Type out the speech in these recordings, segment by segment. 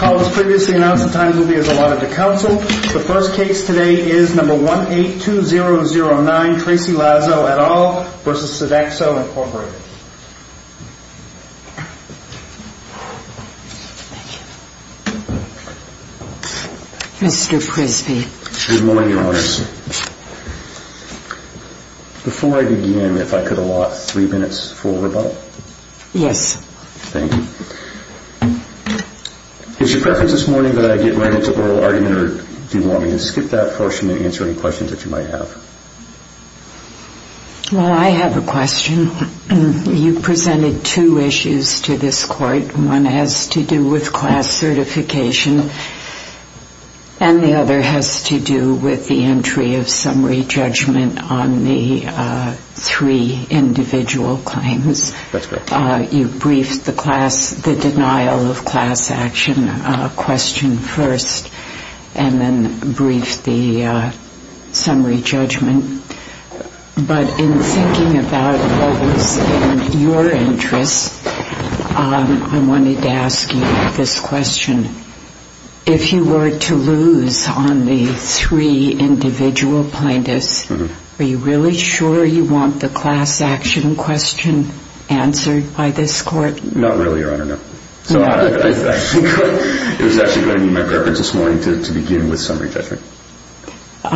As previously announced, the times will be as allotted to counsel. The first case today is No. 182009, Tracy Lazo et al. v. Sodexo, Inc. Mr. Prisby. Good morning, Your Honors. Before I begin, if I could allot three minutes for rebuttal? Yes. Thank you. It's your preference this morning that I get right into oral argument, or do you want me to skip that portion and answer any questions that you might have? Well, I have a question. You presented two issues to this Court. One has to do with class certification, and the other has to do with the entry of summary judgment on the three individual claims. That's correct. You briefed the class, the denial of class action question first, and then briefed the summary judgment. But in thinking about what was in your interest, I wanted to ask you this question. If you were to lose on the three individual plaintiffs, are you really sure you want the class action question answered by this Court? Not really, Your Honor, no. So I think it was actually going to be my preference this morning to begin with summary judgment. All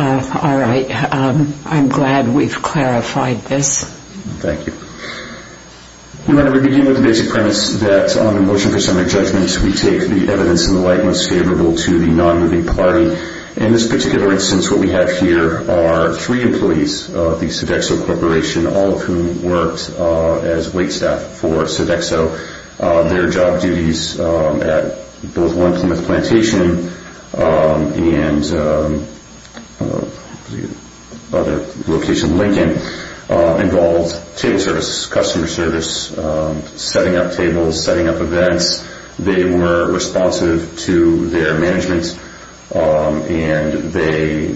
right. I'm glad we've clarified this. Thank you. Your Honor, we begin with the basic premise that on the motion for summary judgment, we take the evidence in the light most favorable to the non-moving party. In this particular instance, what we have here are three employees of the Sodexo Corporation, all of whom worked as wait staff for Sodexo. Their job duties at both 1 Plymouth Plantation and location Lincoln involved table service, customer service, setting up tables, setting up events. They were responsive to their management, and they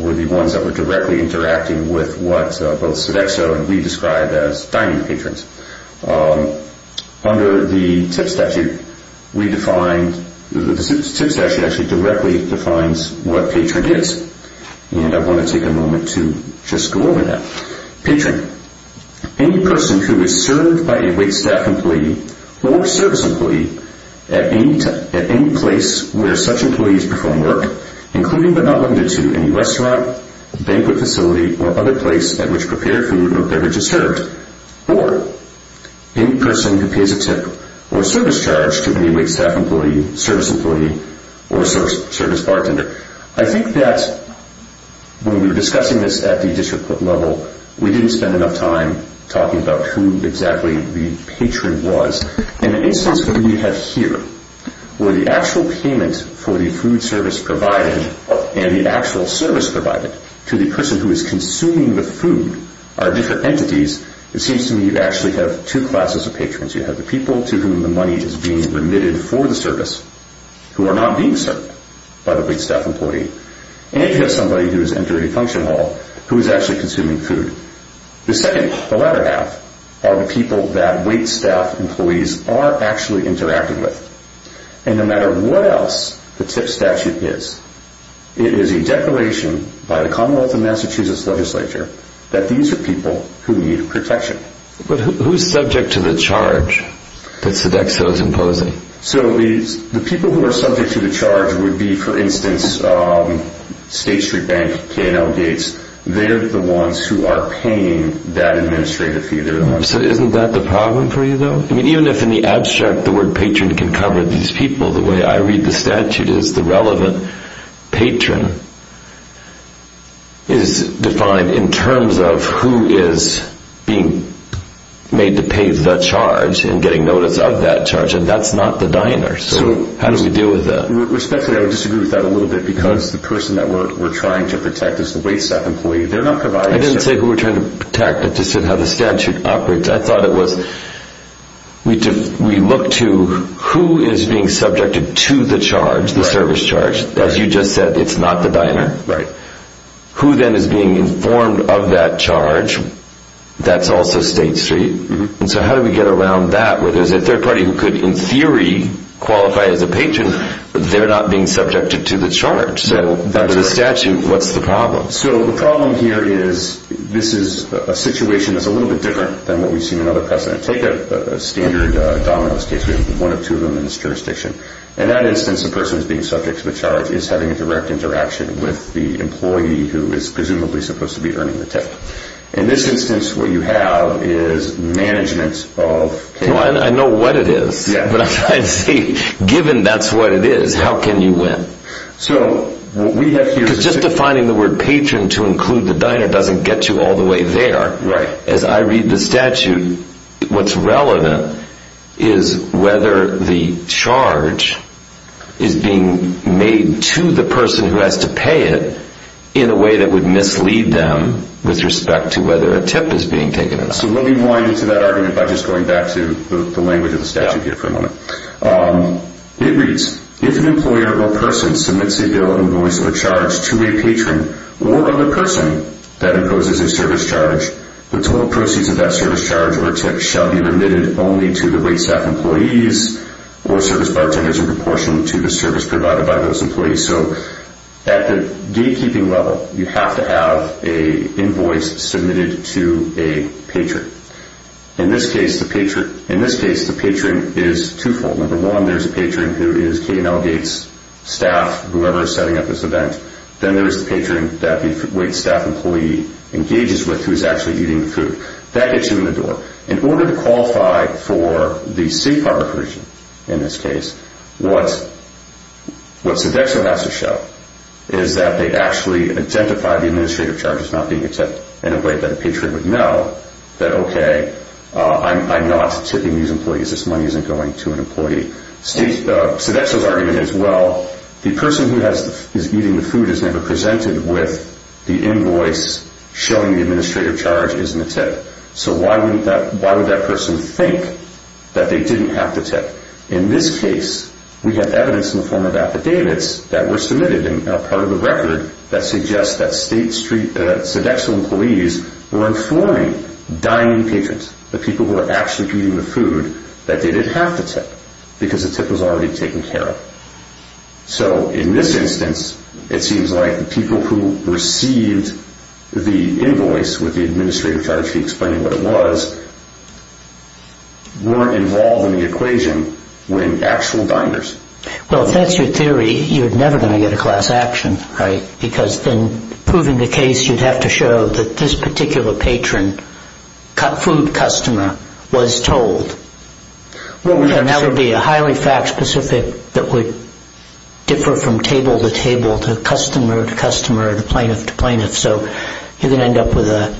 were the ones that were directly interacting with what both Sodexo and we described as dining patrons. Under the tip statute, the tip statute actually directly defines what patron is, and I want to take a moment to just go over that. Patron, any person who is served by a wait staff employee or service employee at any place where such employees perform work, including but not limited to any restaurant, banquet facility, or other place at which prepared food or beverage is served, or any person who pays a tip or service charge to any wait staff employee, service employee, or service bartender. I think that when we were discussing this at the district level, we didn't spend enough time talking about who exactly the patron was. In the instance that we have here, where the actual payment for the food service provided and the actual service provided to the person who is consuming the food are different entities, it seems to me you actually have two classes of patrons. You have the people to whom the money is being remitted for the service who are not being served by the wait staff employee, and you have somebody who has entered a function hall who is actually consuming food. The second, the latter half, are the people that wait staff employees are actually interacting with. And no matter what else the tip statute is, it is a declaration by the Commonwealth of Massachusetts legislature that these are people who need protection. But who is subject to the charge that Sodexo is imposing? The people who are subject to the charge would be, for instance, State Street Bank, K&L Gates. They're the ones who are paying that administrative fee. Isn't that the problem for you, though? Even if in the abstract the word patron can cover these people, the way I read the statute is the relevant patron is defined in terms of who is being made to pay the charge and getting notice of that charge, and that's not the diner. So how do we deal with that? Respectfully, I would disagree with that a little bit because the person that we're trying to protect is the wait staff employee. They're not providing service. I didn't say who we're trying to protect. I just said how the statute operates. I thought it was we look to who is being subjected to the charge, the service charge. As you just said, it's not the diner. Right. Who then is being informed of that charge, that's also State Street. So how do we get around that where there's a third party who could, in theory, qualify as a patron, but they're not being subjected to the charge? So under the statute, what's the problem? So the problem here is this is a situation that's a little bit different than what we've seen in other precedent. Take a standard dominoes case. We have one of two of them in this jurisdiction. In that instance, the person who's being subjected to the charge is having a direct interaction with the employee who is presumably supposed to be earning the tip. In this instance, what you have is management of cash. I know what it is, but I'm trying to see, given that's what it is, how can you win? So what we have here is just defining the word patron to include the diner doesn't get you all the way there. Right. As I read the statute, what's relevant is whether the charge is being made to the person who has to pay it in a way that would mislead them with respect to whether a tip is being taken. So let me wind into that argument by just going back to the language of the statute here for a moment. It reads, if an employer or person submits a bill, invoice, or charge to a patron or other person that imposes a service charge, the total proceeds of that service charge or tip shall be remitted only to the waitstaff employees or service bartenders in proportion to the service provided by those employees. So at the gatekeeping level, you have to have an invoice submitted to a patron. In this case, the patron is twofold. Number one, there's a patron who is K&L Gates staff, whoever is setting up this event. Then there is the patron that the waitstaff employee engages with who is actually eating the food. That gets you in the door. In order to qualify for the safe harbor provision in this case, what Sodexo has to show is that they actually identify the administrative charges not being accepted in a way that a patron would know that, okay, I'm not tipping these employees. This money isn't going to an employee. Sodexo's argument is, well, the person who is eating the food is never presented with the invoice showing the administrative charge isn't a tip. So why would that person think that they didn't have to tip? In this case, we have evidence in the form of affidavits that were submitted and are part of the record that suggests that Sodexo employees were informing dining patrons, the people who were actually eating the food, that they didn't have to tip because the tip was already taken care of. So in this instance, it seems like the people who received the invoice with the administrative charge to explain what it was weren't involved in the equation when actual diners... Well, if that's your theory, you're never going to get a class action, right? Because then proving the case, you'd have to show that this particular patron, food customer, was told. And that would be a highly fact-specific that would differ from table to table to customer to customer to plaintiff to plaintiff. So you're going to end up with a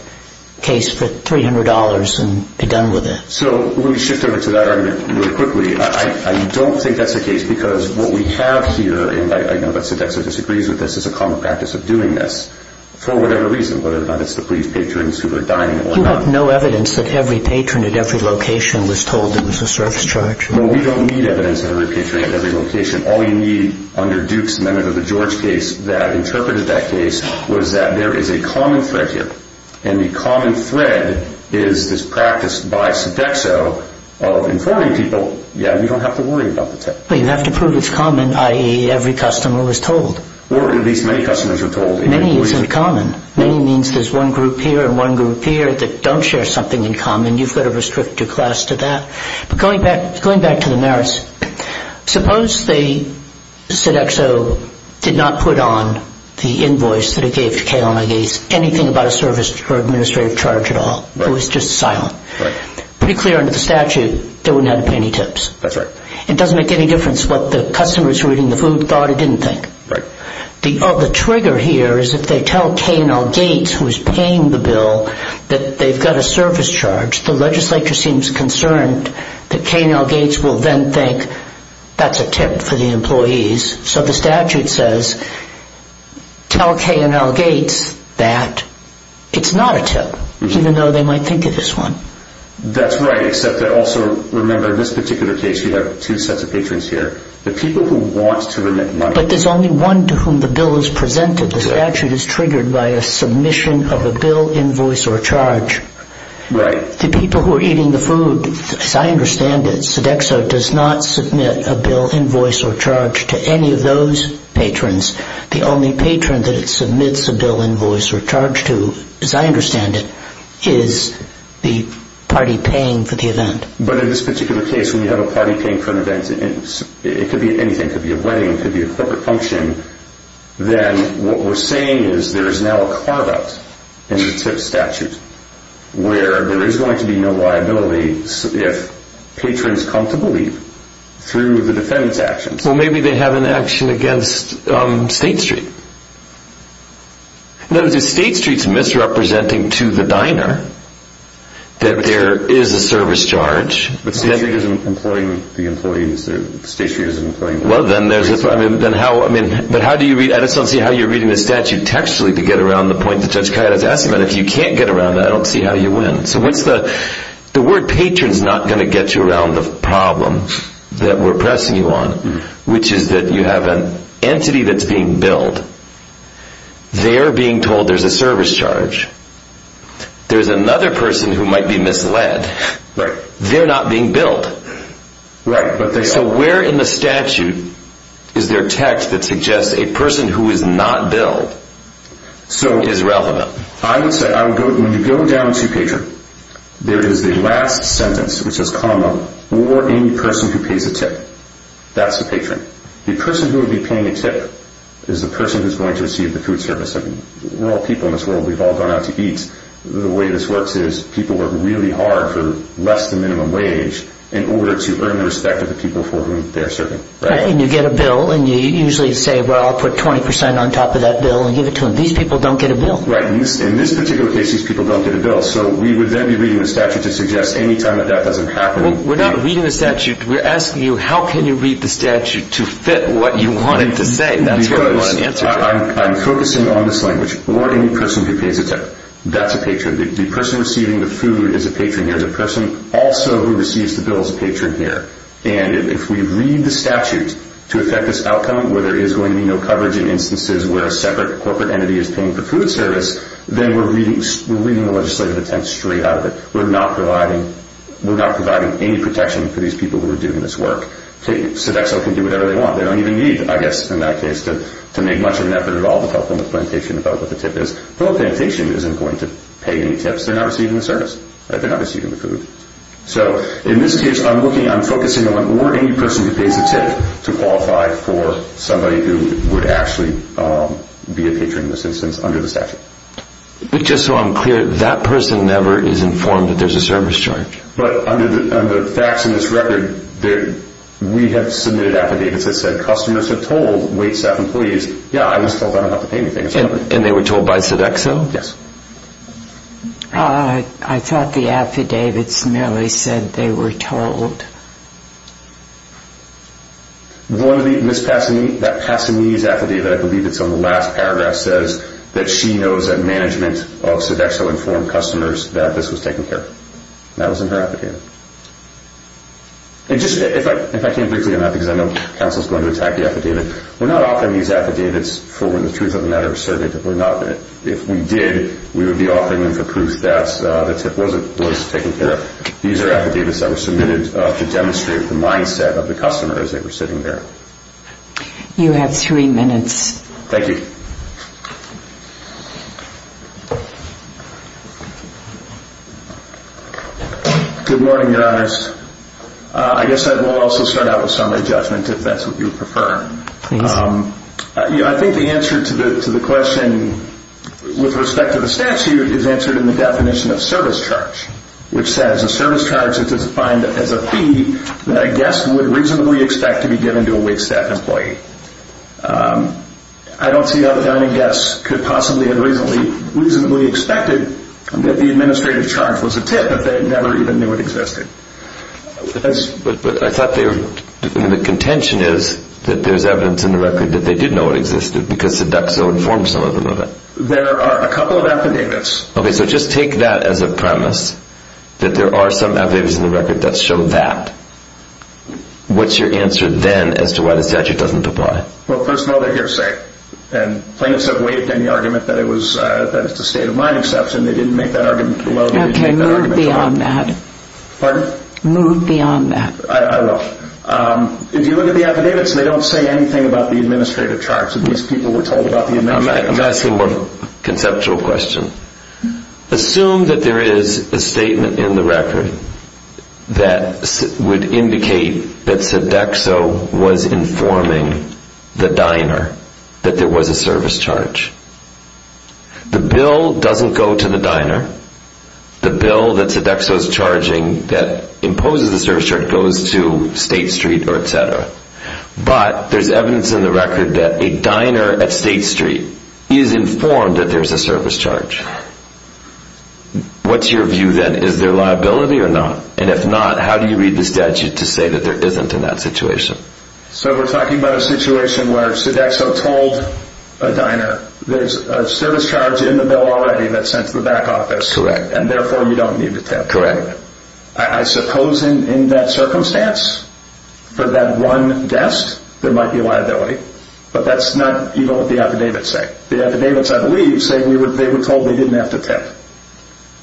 case for $300 and be done with it. So let me shift over to that argument really quickly. I don't think that's the case because what we have here, and I know that Sodexo disagrees with this, is a common practice of doing this for whatever reason, whether or not it's to please patrons who are dining or not. We have no evidence that every patron at every location was told it was a service charge. Well, we don't need evidence of every patron at every location. All you need under Duke's amendment of the George case that interpreted that case was that there is a common thread here. And the common thread is this practice by Sodexo of informing people, yeah, we don't have to worry about the tip. But you have to prove it's common, i.e., every customer was told. Or at least many customers were told. Many isn't common. Many means there's one group here and one group here that don't share something in common. You've got to restrict your class to that. But going back to the merits, suppose they, Sodexo, did not put on the invoice that it gave to Kalem I. Gates anything about a service or administrative charge at all. It was just silent. Pretty clear under the statute they wouldn't have to pay any tips. That's right. It doesn't make any difference what the customers who were eating the food thought or didn't think. The trigger here is if they tell Kalem I. Gates, who is paying the bill, that they've got a service charge, the legislature seems concerned that Kalem I. Gates will then think that's a tip for the employees. So the statute says tell Kalem I. Gates that it's not a tip, even though they might think it is one. That's right, except that also remember in this particular case you have two sets of patrons here. The people who want to remit money. But there's only one to whom the bill is presented. The statute is triggered by a submission of a bill, invoice, or charge. Right. The people who are eating the food, as I understand it, Sodexo does not submit a bill, invoice, or charge to any of those patrons. The only patron that it submits a bill, invoice, or charge to, as I understand it, is the party paying for the event. But in this particular case, when you have a party paying for an event, it could be anything. It could be a wedding. It could be a corporate function. Then what we're saying is there is now a carve out in the tip statute where there is going to be no liability if patrons come to believe through the defendant's actions. Well, maybe they have an action against State Street. No, State Street is misrepresenting to the diner that there is a service charge. But State Street isn't employing the employees. State Street isn't employing the employees. Well, then how do you read, I just don't see how you're reading the statute textually to get around the point that Judge Kayada's asking about. If you can't get around that, I don't see how you win. So what's the, the word patron's not going to get you around the problem that we're pressing you on, which is that you have an entity that's being billed. They're being told there's a service charge. There's another person who might be misled. Right. They're not being billed. Right, but they are. So where in the statute is there text that suggests a person who is not billed is relevant? When you go down to patron, there is the last sentence, which is comma, or any person who pays a tip. That's a patron. The person who would be paying a tip is the person who's going to receive the food service. We're all people in this world. We've all gone out to eat. The way this works is people work really hard for less than minimum wage in order to earn the respect of the people for whom they're serving. And you get a bill, and you usually say, well, I'll put 20% on top of that bill and give it to them. These people don't get a bill. Right. In this particular case, these people don't get a bill. So we would then be reading the statute to suggest any time that that doesn't happen. We're not reading the statute. We're asking you, how can you read the statute to fit what you want it to say? That's what we want an answer to. Because I'm focusing on this language. Or any person who pays a tip. That's a patron. The person receiving the food is a patron here. The person also who receives the bill is a patron here. And if we read the statute to affect this outcome where there is going to be no coverage in instances where a separate corporate entity is paying for food service, then we're reading the legislative intent straight out of it. We're not providing any protection for these people who are doing this work. Sodexo can do whatever they want. They don't even need, I guess in that case, to make much of an effort at all to help them with plantation about what the tip is. No plantation isn't going to pay any tips. They're not receiving the service. They're not receiving the food. So in this case, I'm focusing on or any person who pays a tip to qualify for somebody who would actually be a patron in this instance under the statute. But just so I'm clear, that person never is informed that there's a service charge. But under the facts in this record, we have submitted affidavits that said customers have told waitstaff employees, yeah, I was told I don't have to pay anything. And they were told by Sodexo? Yes. I thought the affidavits merely said they were told. The one that Miss Passini, that Passini's affidavit, I believe it's on the last paragraph, says that she knows that management of Sodexo informed customers that this was taken care of. That was in her affidavit. And just, if I can briefly on that because I know counsel is going to attack the affidavit, we're not offering these affidavits for when the truth of the matter is certain. If we did, we would be offering them for proof that the tip was taken care of. These are affidavits that were submitted to demonstrate the mindset of the customer as they were sitting there. You have three minutes. Thank you. Good morning, Your Honors. I guess I will also start out with summary judgment if that's what you prefer. Please. I think the answer to the question with respect to the statute is answered in the definition of service charge, which says a service charge is defined as a fee that a guest would reasonably expect to be given to a waitstaff employee. I don't see how the dining guest could possibly have reasonably expected that the administrative charge was a tip if they never even knew it existed. But I thought the contention is that there's evidence in the record that they did know it existed because CEDACSO informed some of them of it. There are a couple of affidavits. Okay. So just take that as a premise that there are some affidavits in the record that show that. What's your answer then as to why the statute doesn't apply? Well, first of all, they're hearsay. And plaintiffs have waived any argument that it's a state-of-mind exception. They didn't make that argument well. Okay. Move beyond that. Pardon? Move beyond that. I will. If you look at the affidavits, they don't say anything about the administrative charge. These people were told about the administrative charge. I'm going to ask you one conceptual question. Assume that there is a statement in the record that would indicate that CEDACSO was informing the diner that there was a service charge. The bill doesn't go to the diner. The bill that CEDACSO is charging that imposes the service charge goes to State Street or et cetera. But there's evidence in the record that a diner at State Street is informed that there's a service charge. What's your view then? Is there liability or not? And if not, how do you read the statute to say that there isn't in that situation? So we're talking about a situation where CEDACSO told a diner there's a service charge in the bill already that's sent to the back office. Correct. And therefore, you don't need to tip. Correct. I suppose in that circumstance, for that one guest, there might be liability. But that's not even what the affidavits say. The affidavits, I believe, say they were told they didn't have to tip.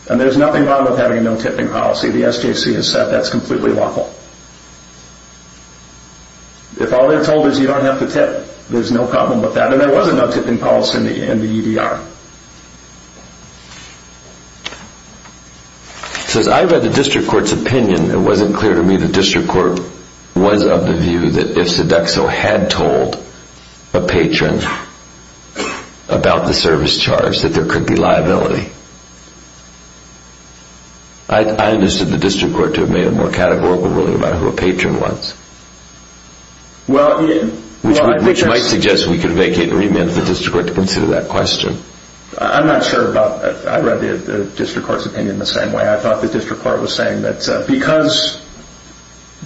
And there's nothing wrong with having no tipping policy. The SJC has said that's completely lawful. If all they're told is you don't have to tip, there's no problem with that. And there wasn't no tipping policy in the EDR. So as I read the district court's opinion, it wasn't clear to me the district court was of the view that if CEDACSO had told a patron about the service charge that there could be liability. I understood the district court to have made a more categorical ruling about who a patron was, which might suggest we could vacate the remit of the district court to consider that question. I'm not sure about that. I read the district court's opinion the same way. I thought the district court was saying that because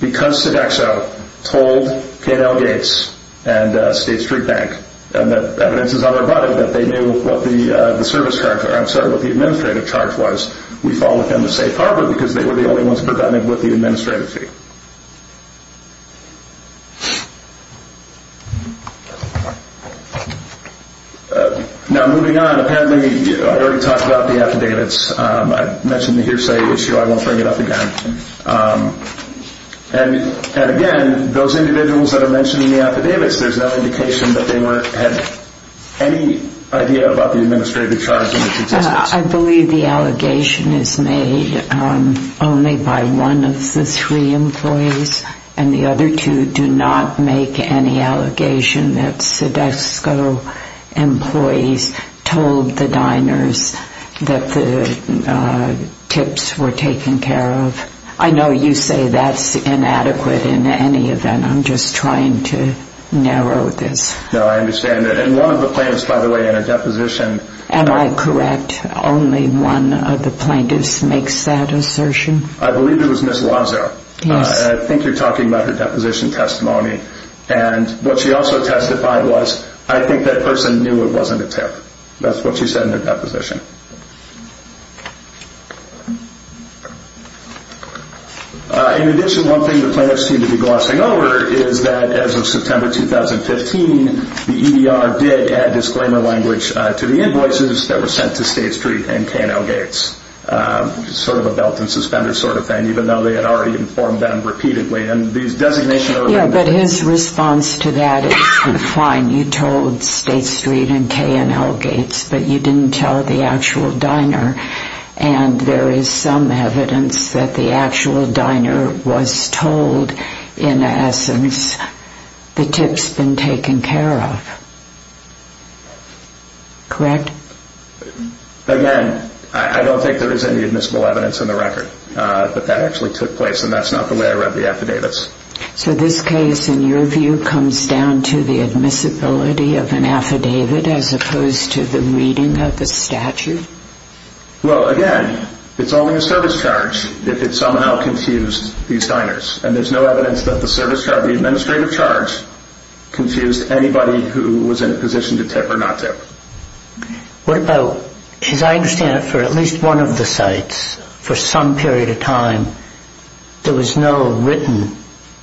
CEDACSO told K&L Gates and State Street Bank that evidence is on their body, that they knew what the service charge, I'm sorry, what the administrative charge was, we followed them to safe harbor because they were the only ones prevented with the administrative fee. Now, moving on, apparently I already talked about the affidavits. I mentioned the hearsay issue. I won't bring it up again. And, again, those individuals that are mentioned in the affidavits, there's no indication that they had any idea about the administrative charge in its existence. I believe the allegation is made only by one of the three employees, and the other two do not make any allegation that CEDACSO employees told the diners that the tips were taken care of. I know you say that's inadequate in any event. I'm just trying to narrow this. No, I understand that. And one of the plaintiffs, by the way, in her deposition… Am I correct? Only one of the plaintiffs makes that assertion? I believe it was Ms. Wazow. Yes. I think you're talking about her deposition testimony. And what she also testified was, I think that person knew it wasn't a tip. That's what she said in her deposition. In addition, one thing the plaintiffs seem to be glossing over is that as of September 2015, the EDR did add disclaimer language to the invoices that were sent to State Street and K&L Gates, sort of a belt and suspender sort of thing, even though they had already informed them repeatedly. Yes, but his response to that is, fine, you told State Street and K&L Gates, but you didn't tell the actual diner. And there is some evidence that the actual diner was told, in essence, the tip's been taken care of. Correct? Again, I don't think there is any admissible evidence in the record that that actually took place. And that's not the way I read the affidavits. So this case, in your view, comes down to the admissibility of an affidavit as opposed to the reading of the statute? Well, again, it's only a service charge if it somehow confused these diners. And there's no evidence that the service charge, the administrative charge, confused anybody who was in a position to tip or not tip. As I understand it, for at least one of the sites, for some period of time, there was no written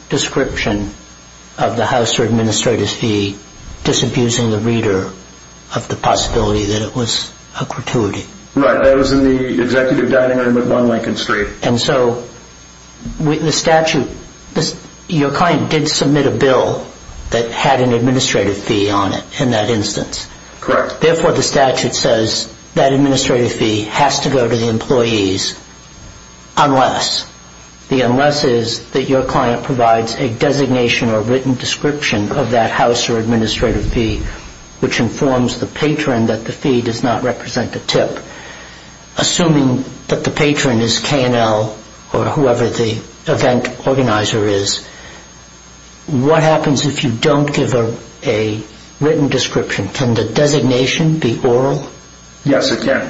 description of the house or administrator's fee disabusing the reader of the possibility that it was a gratuity? Right, that was in the executive dining room at 1 Lincoln Street. And so the statute, your client did submit a bill that had an administrative fee on it in that instance? Correct. Therefore, the statute says that administrative fee has to go to the employees unless. The unless is that your client provides a designation or written description of that house or administrative fee, which informs the patron that the fee does not represent a tip. Assuming that the patron is KNL or whoever the event organizer is, what happens if you don't give a written description? Can the designation be oral? Yes, it can.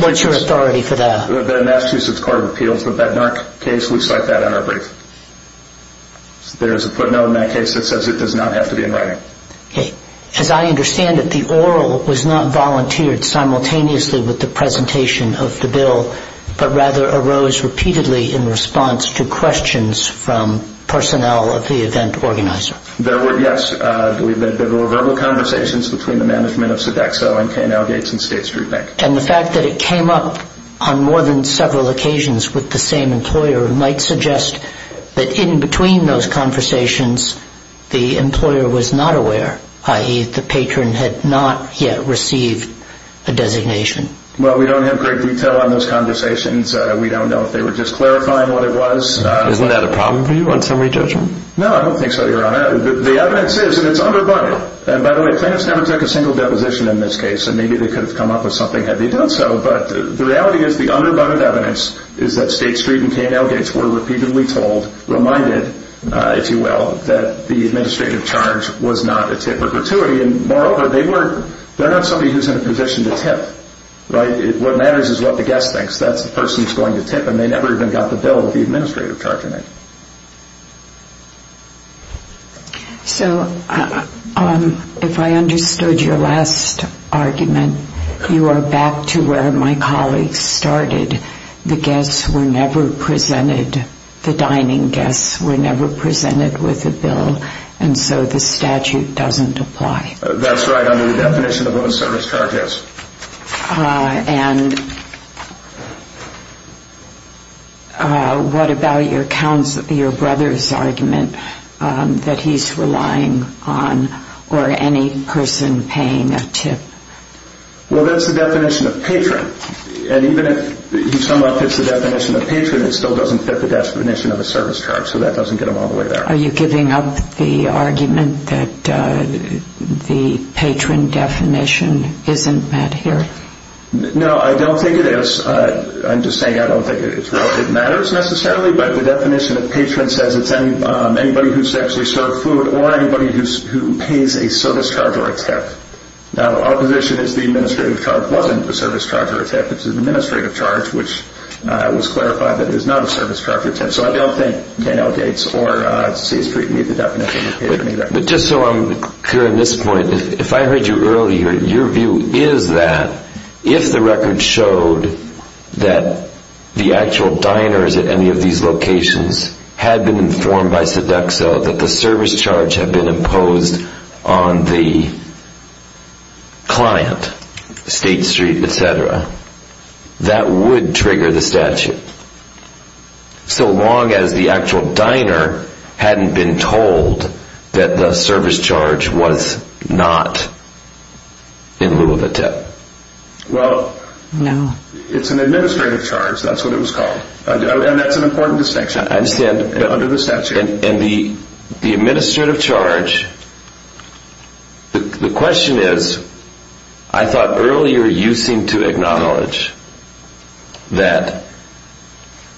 What's your authority for that? The Massachusetts Court of Appeals, the Bednark case, we cite that in our brief. There's a footnote in that case that says it does not have to be in writing. As I understand it, the oral was not volunteered simultaneously with the presentation of the bill, but rather arose repeatedly in response to questions from personnel of the event organizer. Yes, there were verbal conversations between the management of Sodexo and KNL Gates and State Street Bank. And the fact that it came up on more than several occasions with the same employer might suggest that in between those conversations, the employer was not aware, i.e., the patron had not yet received a designation. Well, we don't have great detail on those conversations. We don't know if they were just clarifying what it was. Isn't that a problem for you on summary judgment? No, I don't think so, Your Honor. The evidence is that it's underbunded. And by the way, plaintiffs never took a single deposition in this case. And maybe they could have come up with something had they done so. But the reality is the underbunded evidence is that State Street and KNL Gates were repeatedly told, reminded, if you will, that the administrative charge was not a tip or gratuity. And moreover, they're not somebody who's in a position to tip. What matters is what the guest thinks. That's the person who's going to tip. And they never even got the bill with the administrative charge in it. So if I understood your last argument, you are back to where my colleagues started. The guests were never presented, the dining guests were never presented with a bill, and so the statute doesn't apply. That's right, under the definition of what a service charge is. And what about your brother's argument that he's relying on or any person paying a tip? Well, that's the definition of patron. And even if he somewhat fits the definition of patron, it still doesn't fit the definition of a service charge. So that doesn't get him all the way there. Are you giving up the argument that the patron definition isn't met here? No, I don't think it is. I'm just saying I don't think it matters necessarily. But the definition of patron says it's anybody who's actually served food or anybody who pays a service charge or a tip. Now, our position is the administrative charge wasn't a service charge or a tip. It's an administrative charge, which was clarified that it was not a service charge or a tip. So I don't think 10L dates or C Street meet the definition of patron either. But just so I'm clear on this point, if I heard you earlier, your view is that if the record showed that the actual diners at any of these locations had been informed by Sodexo that the service charge had been imposed on the client, State Street, et cetera, that would trigger the statute. So long as the actual diner hadn't been told that the service charge was not in lieu of a tip. Well, it's an administrative charge. That's what it was called. And that's an important distinction under the statute. And the administrative charge, the question is, I thought earlier you seem to acknowledge that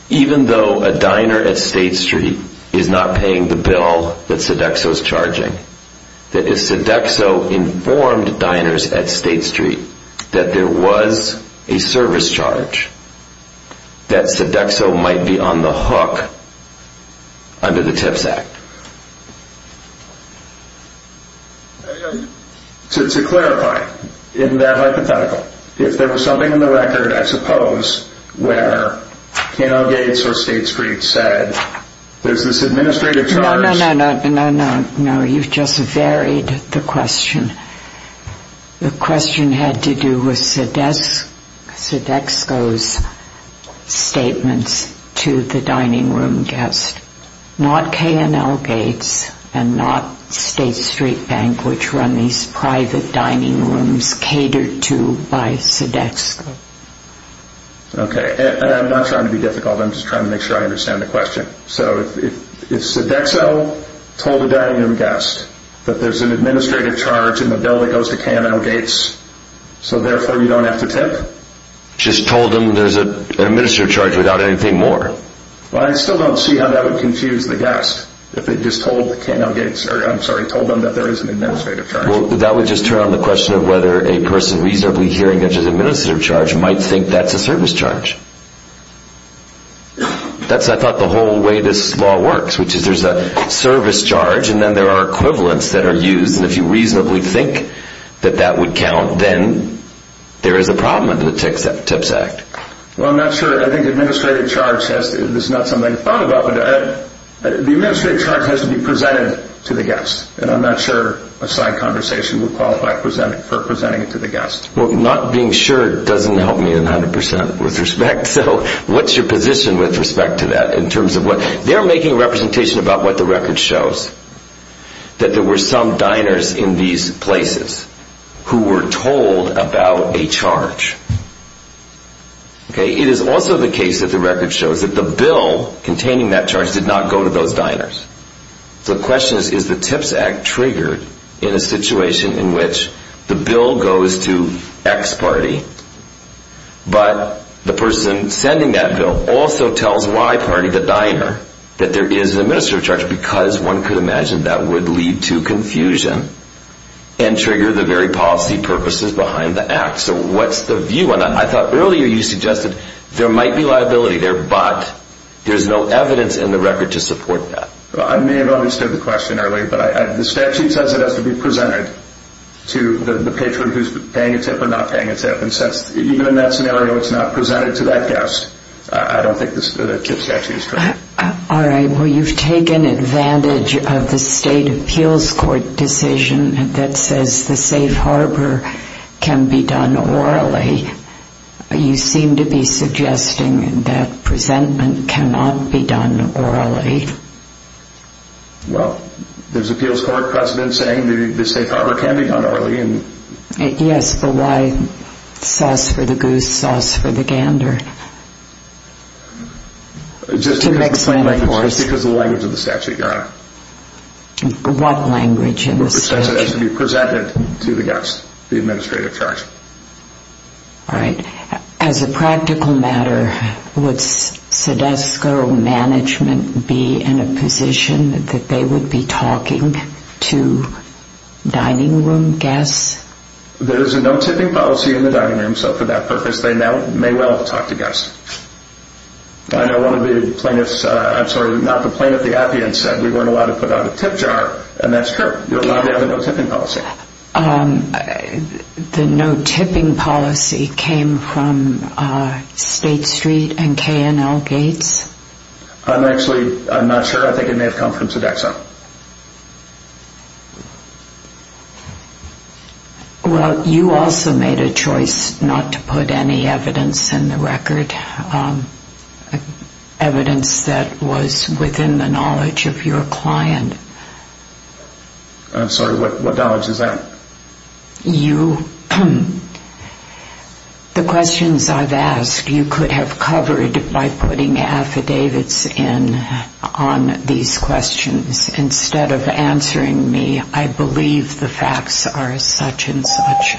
even though a diner at State Street is not paying the bill that Sodexo is charging, that if Sodexo informed diners at State Street that there was a service charge, that Sodexo might be on the hook under the TIPS Act. To clarify in that hypothetical, if there was something in the record, I suppose, where 10L dates or State Street said there's this administrative charge. No, no, no, no, no. You've just varied the question. The question had to do with Sodexo's statements to the dining room guest. Not K&L dates and not State Street Bank, which run these private dining rooms catered to by Sodexo. Okay. And I'm not trying to be difficult. I'm just trying to make sure I understand the question. So if Sodexo told a dining room guest that there's an administrative charge in the bill that goes to K&L dates, so therefore you don't have to tip? Just told them there's an administrative charge without anything more. Well, I still don't see how that would confuse the guest if they just told the K&L dates, I'm sorry, told them that there is an administrative charge. Well, that would just turn on the question of whether a person reasonably hearing that there's an administrative charge might think that's a service charge. That's, I thought, the whole way this law works, which is there's a service charge and then there are equivalents that are used. And if you reasonably think that that would count, then there is a problem under the TIPS Act. Well, I'm not sure. I think the administrative charge has to be presented to the guest. And I'm not sure a side conversation would qualify for presenting it to the guest. Well, not being sure doesn't help me 100% with respect, so what's your position with respect to that? They're making a representation about what the record shows, that there were some diners in these places who were told about a charge. It is also the case that the record shows that the bill containing that charge did not go to those diners. So the question is, is the TIPS Act triggered in a situation in which the bill goes to X party, but the person sending that bill also tells Y party, the diner, that there is an administrative charge, because one could imagine that would lead to confusion and trigger the very policy purposes behind the act. So what's the view on that? I thought earlier you suggested there might be liability there, but there's no evidence in the record to support that. I may have understood the question earlier, but the statute says it has to be presented to the patron who's paying a tip or not paying a tip. And even in that scenario, it's not presented to that guest. I don't think the TIPS statute is true. All right. Well, you've taken advantage of the state appeals court decision that says the safe harbor can be done orally. You seem to be suggesting that presentment cannot be done orally. Well, there's appeals court precedent saying the safe harbor can be done orally. Yes, but why sauce for the goose, sauce for the gander? Just because the language of the statute, Your Honor. What language in the statute? It says it has to be presented to the guest, the administrative charge. All right. As a practical matter, would SEDESCO management be in a position that they would be talking to dining room guests? There is a no tipping policy in the dining room, so for that purpose, they may well talk to guests. I know one of the plaintiffs, I'm sorry, not the plaintiff, the appealant said we weren't allowed to put out a tip jar, and that's true. You're allowed to have a no tipping policy. The no tipping policy came from State Street and K&L Gates? I'm actually, I'm not sure, I think it may have come from SEDESCO. Well, you also made a choice not to put any evidence in the record, evidence that was within the knowledge of your client. I'm sorry, what knowledge is that? You, the questions I've asked, you could have covered by putting affidavits in on these questions instead of answering me. I believe the facts are such and such,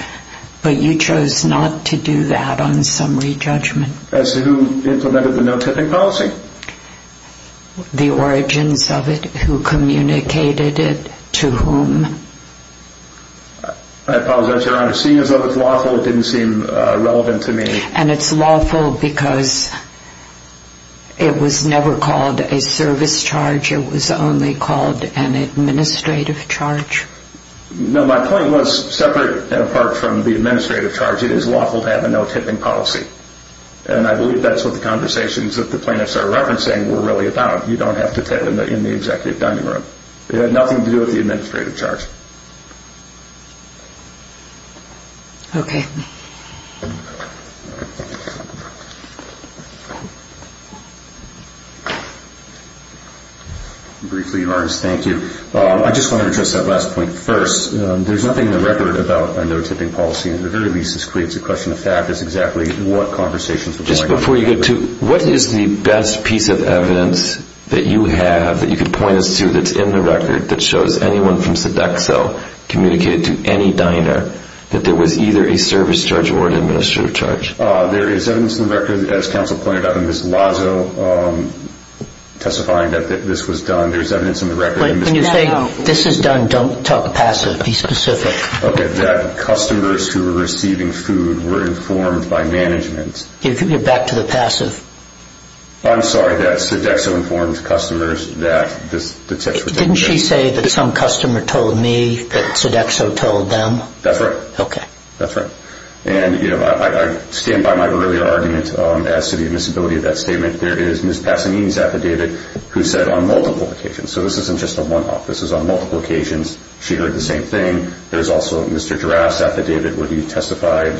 but you chose not to do that on summary judgment. As to who implemented the no tipping policy? The origins of it, who communicated it, to whom? I apologize, Your Honor, seeing as though it's lawful, it didn't seem relevant to me. And it's lawful because it was never called a service charge, it was only called an administrative charge? No, my point was separate and apart from the administrative charge, it is lawful to have a no tipping policy. And I believe that's what the conversations that the plaintiffs are referencing were really about. You don't have to tip in the executive dining room. It had nothing to do with the administrative charge. Okay. Briefly, Your Honor, thank you. I just want to address that last point first. There's nothing in the record about a no tipping policy. At the very least, this creates a question of fact as to exactly what conversations were going on. Just before you get to, what is the best piece of evidence that you have that you could point us to that's in the record that shows anyone from Sodexo communicated to any diner that there was either a service charge or an administrative charge? There is evidence in the record, as counsel pointed out in Ms. Lazo testifying that this was done. There's evidence in the record. When you say this is done, don't talk passive. Be specific. Okay. That customers who were receiving food were informed by management. You're back to the passive. I'm sorry. That Sodexo informed customers that this was done. Didn't she say that some customer told me that Sodexo told them? That's right. Okay. That's right. And I stand by my earlier argument as to the admissibility of that statement. There is Ms. Passanini's affidavit who said on multiple occasions. So this isn't just a one-off. This is on multiple occasions. She heard the same thing. There's also Mr. Giraffe's affidavit where he testified.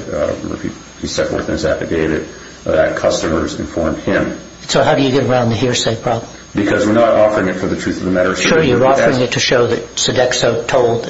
He set forth in his affidavit that customers informed him. So how do you get around the hearsay problem? Because we're not offering it for the truth of the matter. Sure, you're offering it to show that Sodexo told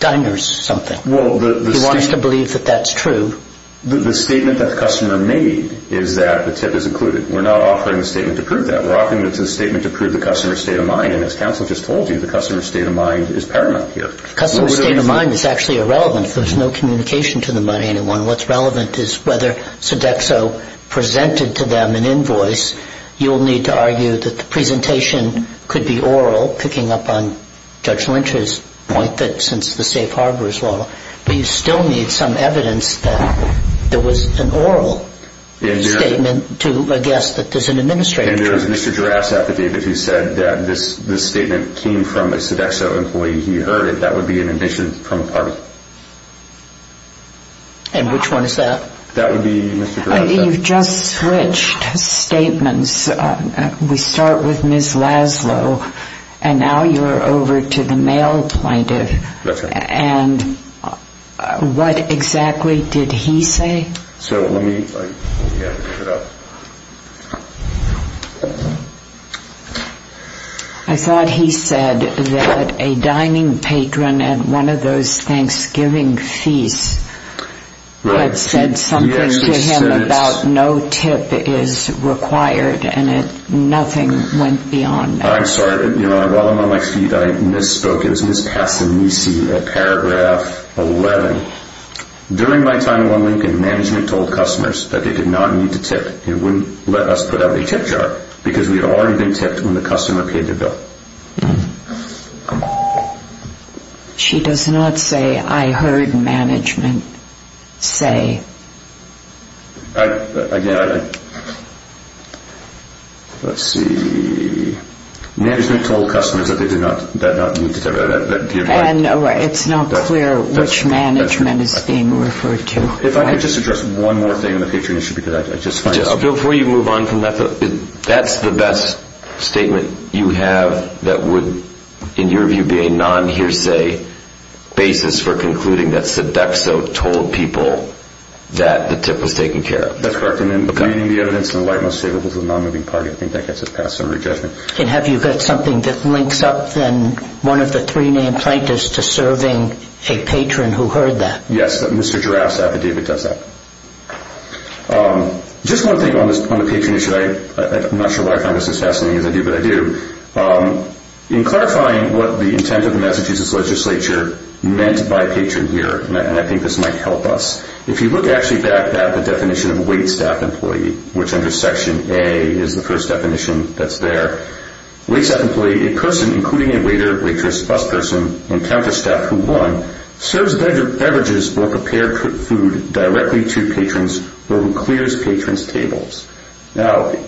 diners something. He wants to believe that that's true. The statement that the customer made is that the tip is included. We're not offering the statement to prove that. We're offering the statement to prove the customer's state of mind. And as counsel just told you, the customer's state of mind is paramount here. Customer's state of mind is actually irrelevant. There's no communication to the money, anyone. What's relevant is whether Sodexo presented to them an invoice. You'll need to argue that the presentation could be oral, picking up on Judge Lynch's point that since the safe harbor is law, but you still need some evidence that there was an oral statement to guess that there's an administrative error. And there was Mr. Giraffe's affidavit who said that this statement came from a Sodexo employee. He heard it. That would be an admission from a party. And which one is that? That would be Mr. Giraffe's affidavit. You've just switched statements. We start with Ms. Laszlo, and now you're over to the male plaintiff. That's right. And what exactly did he say? So let me get it up. I thought he said that a dining patron at one of those Thanksgiving feasts had said something to him about no tip is required, and nothing went beyond that. I'm sorry. While I'm on my feet, I misspoke. It was Ms. Passanisi at paragraph 11. During my time at OneLincoln, management told customers that they did not need to tip. They wouldn't let us put out a tip jar because we had already been tipped when the customer paid the bill. She does not say, I heard management say. Again, let's see. Management told customers that they did not need to tip. It's not clear which management is being referred to. If I could just address one more thing on the patron issue. Before you move on from that, that's the best statement you have that would, in your view, be a non-hearsay basis for concluding that Sodexo told people that the tip was taken care of. That's correct. And then the evidence in the light most favorable to the non-moving party, I think that gets us past summary judgment. And have you got something that links up, then, one of the three named plaintiffs to serving a patron who heard that? Yes, Mr. Giraffe's affidavit does that. Just one thing on the patron issue. I'm not sure why I find this as fascinating as I do, but I do. In clarifying what the intent of the Massachusetts legislature meant by patron here, and I think this might help us, if you look actually back at the definition of a waitstaff employee, which under Section A is the first definition that's there, waitstaff employee, a person, including a waiter, waitress, bus person, and counter staff who won, serves beverages or prepared food directly to patrons or who clears patrons' tables. I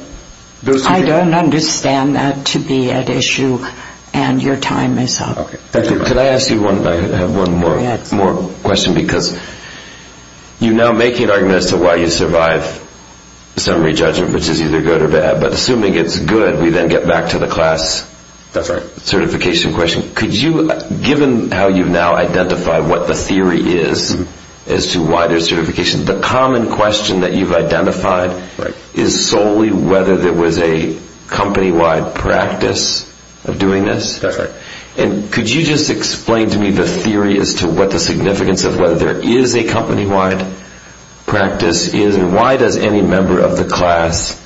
don't understand that to be at issue, and your time is up. Can I ask you one more question? You're now making an argument as to why you survive summary judgment, which is either good or bad, but assuming it's good, we then get back to the class certification question. Given how you've now identified what the theory is as to why there's certification, the common question that you've identified is solely whether there was a company-wide practice of doing this. That's right. Could you just explain to me the theory as to what the significance of whether there is a company-wide practice is, and why does any member of the class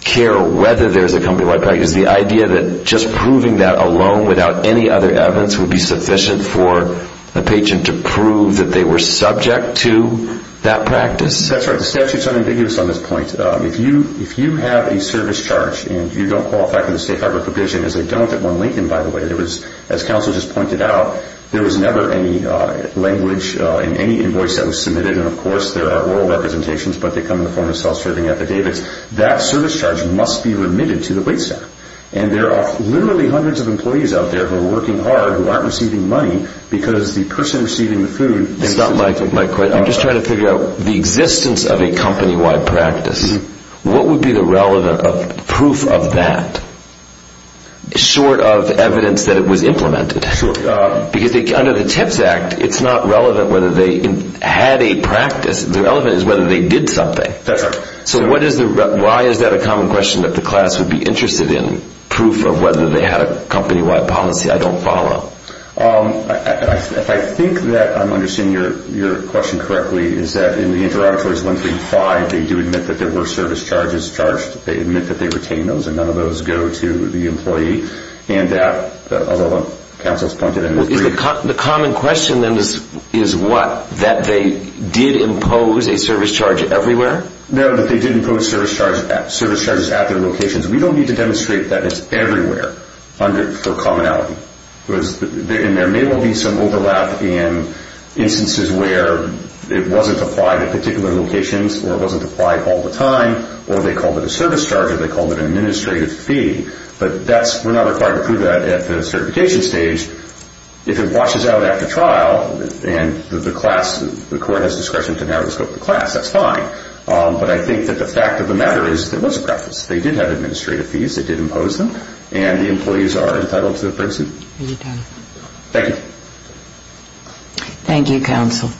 care whether there's a company-wide practice? Is the idea that just proving that alone without any other evidence would be sufficient for a patron to prove that they were subject to that practice? That's right. The statute's unambiguous on this point. If you have a service charge and you don't qualify for the State Highway Prohibition, as they don't at 1 Lincoln, by the way, as counsel just pointed out, there was never any language in any invoice that was submitted, and, of course, there are oral representations, but they come in the form of self-serving affidavits. That service charge must be remitted to the waitstaff. And there are literally hundreds of employees out there who are working hard who aren't receiving money because the person receiving the food isn't... I'm just trying to figure out the existence of a company-wide practice. What would be the relevant proof of that, short of evidence that it was implemented? Because under the TIPS Act, it's not relevant whether they had a practice. The relevant is whether they did something. That's right. So why is that a common question that the class would be interested in, proof of whether they had a company-wide policy I don't follow? If I think that I'm understanding your question correctly, is that in the Interobitaries 135, they do admit that there were service charges charged. They admit that they retained those, and none of those go to the employee, and that, as counsel has pointed out... The common question, then, is what? That they did impose a service charge everywhere? No, that they did impose service charges at their locations. We don't need to demonstrate that it's everywhere for commonality. There may well be some overlap in instances where it wasn't applied at particular locations or it wasn't applied all the time, or they called it a service charge or they called it an administrative fee, but we're not required to prove that at the certification stage. If it washes out after trial and the court has discretion to narrow the scope of the class, that's fine. But I think that the fact of the matter is there was a practice. They did have administrative fees. It did impose them, and the employees are entitled to the person. Are you done? Thank you. Thank you, counsel.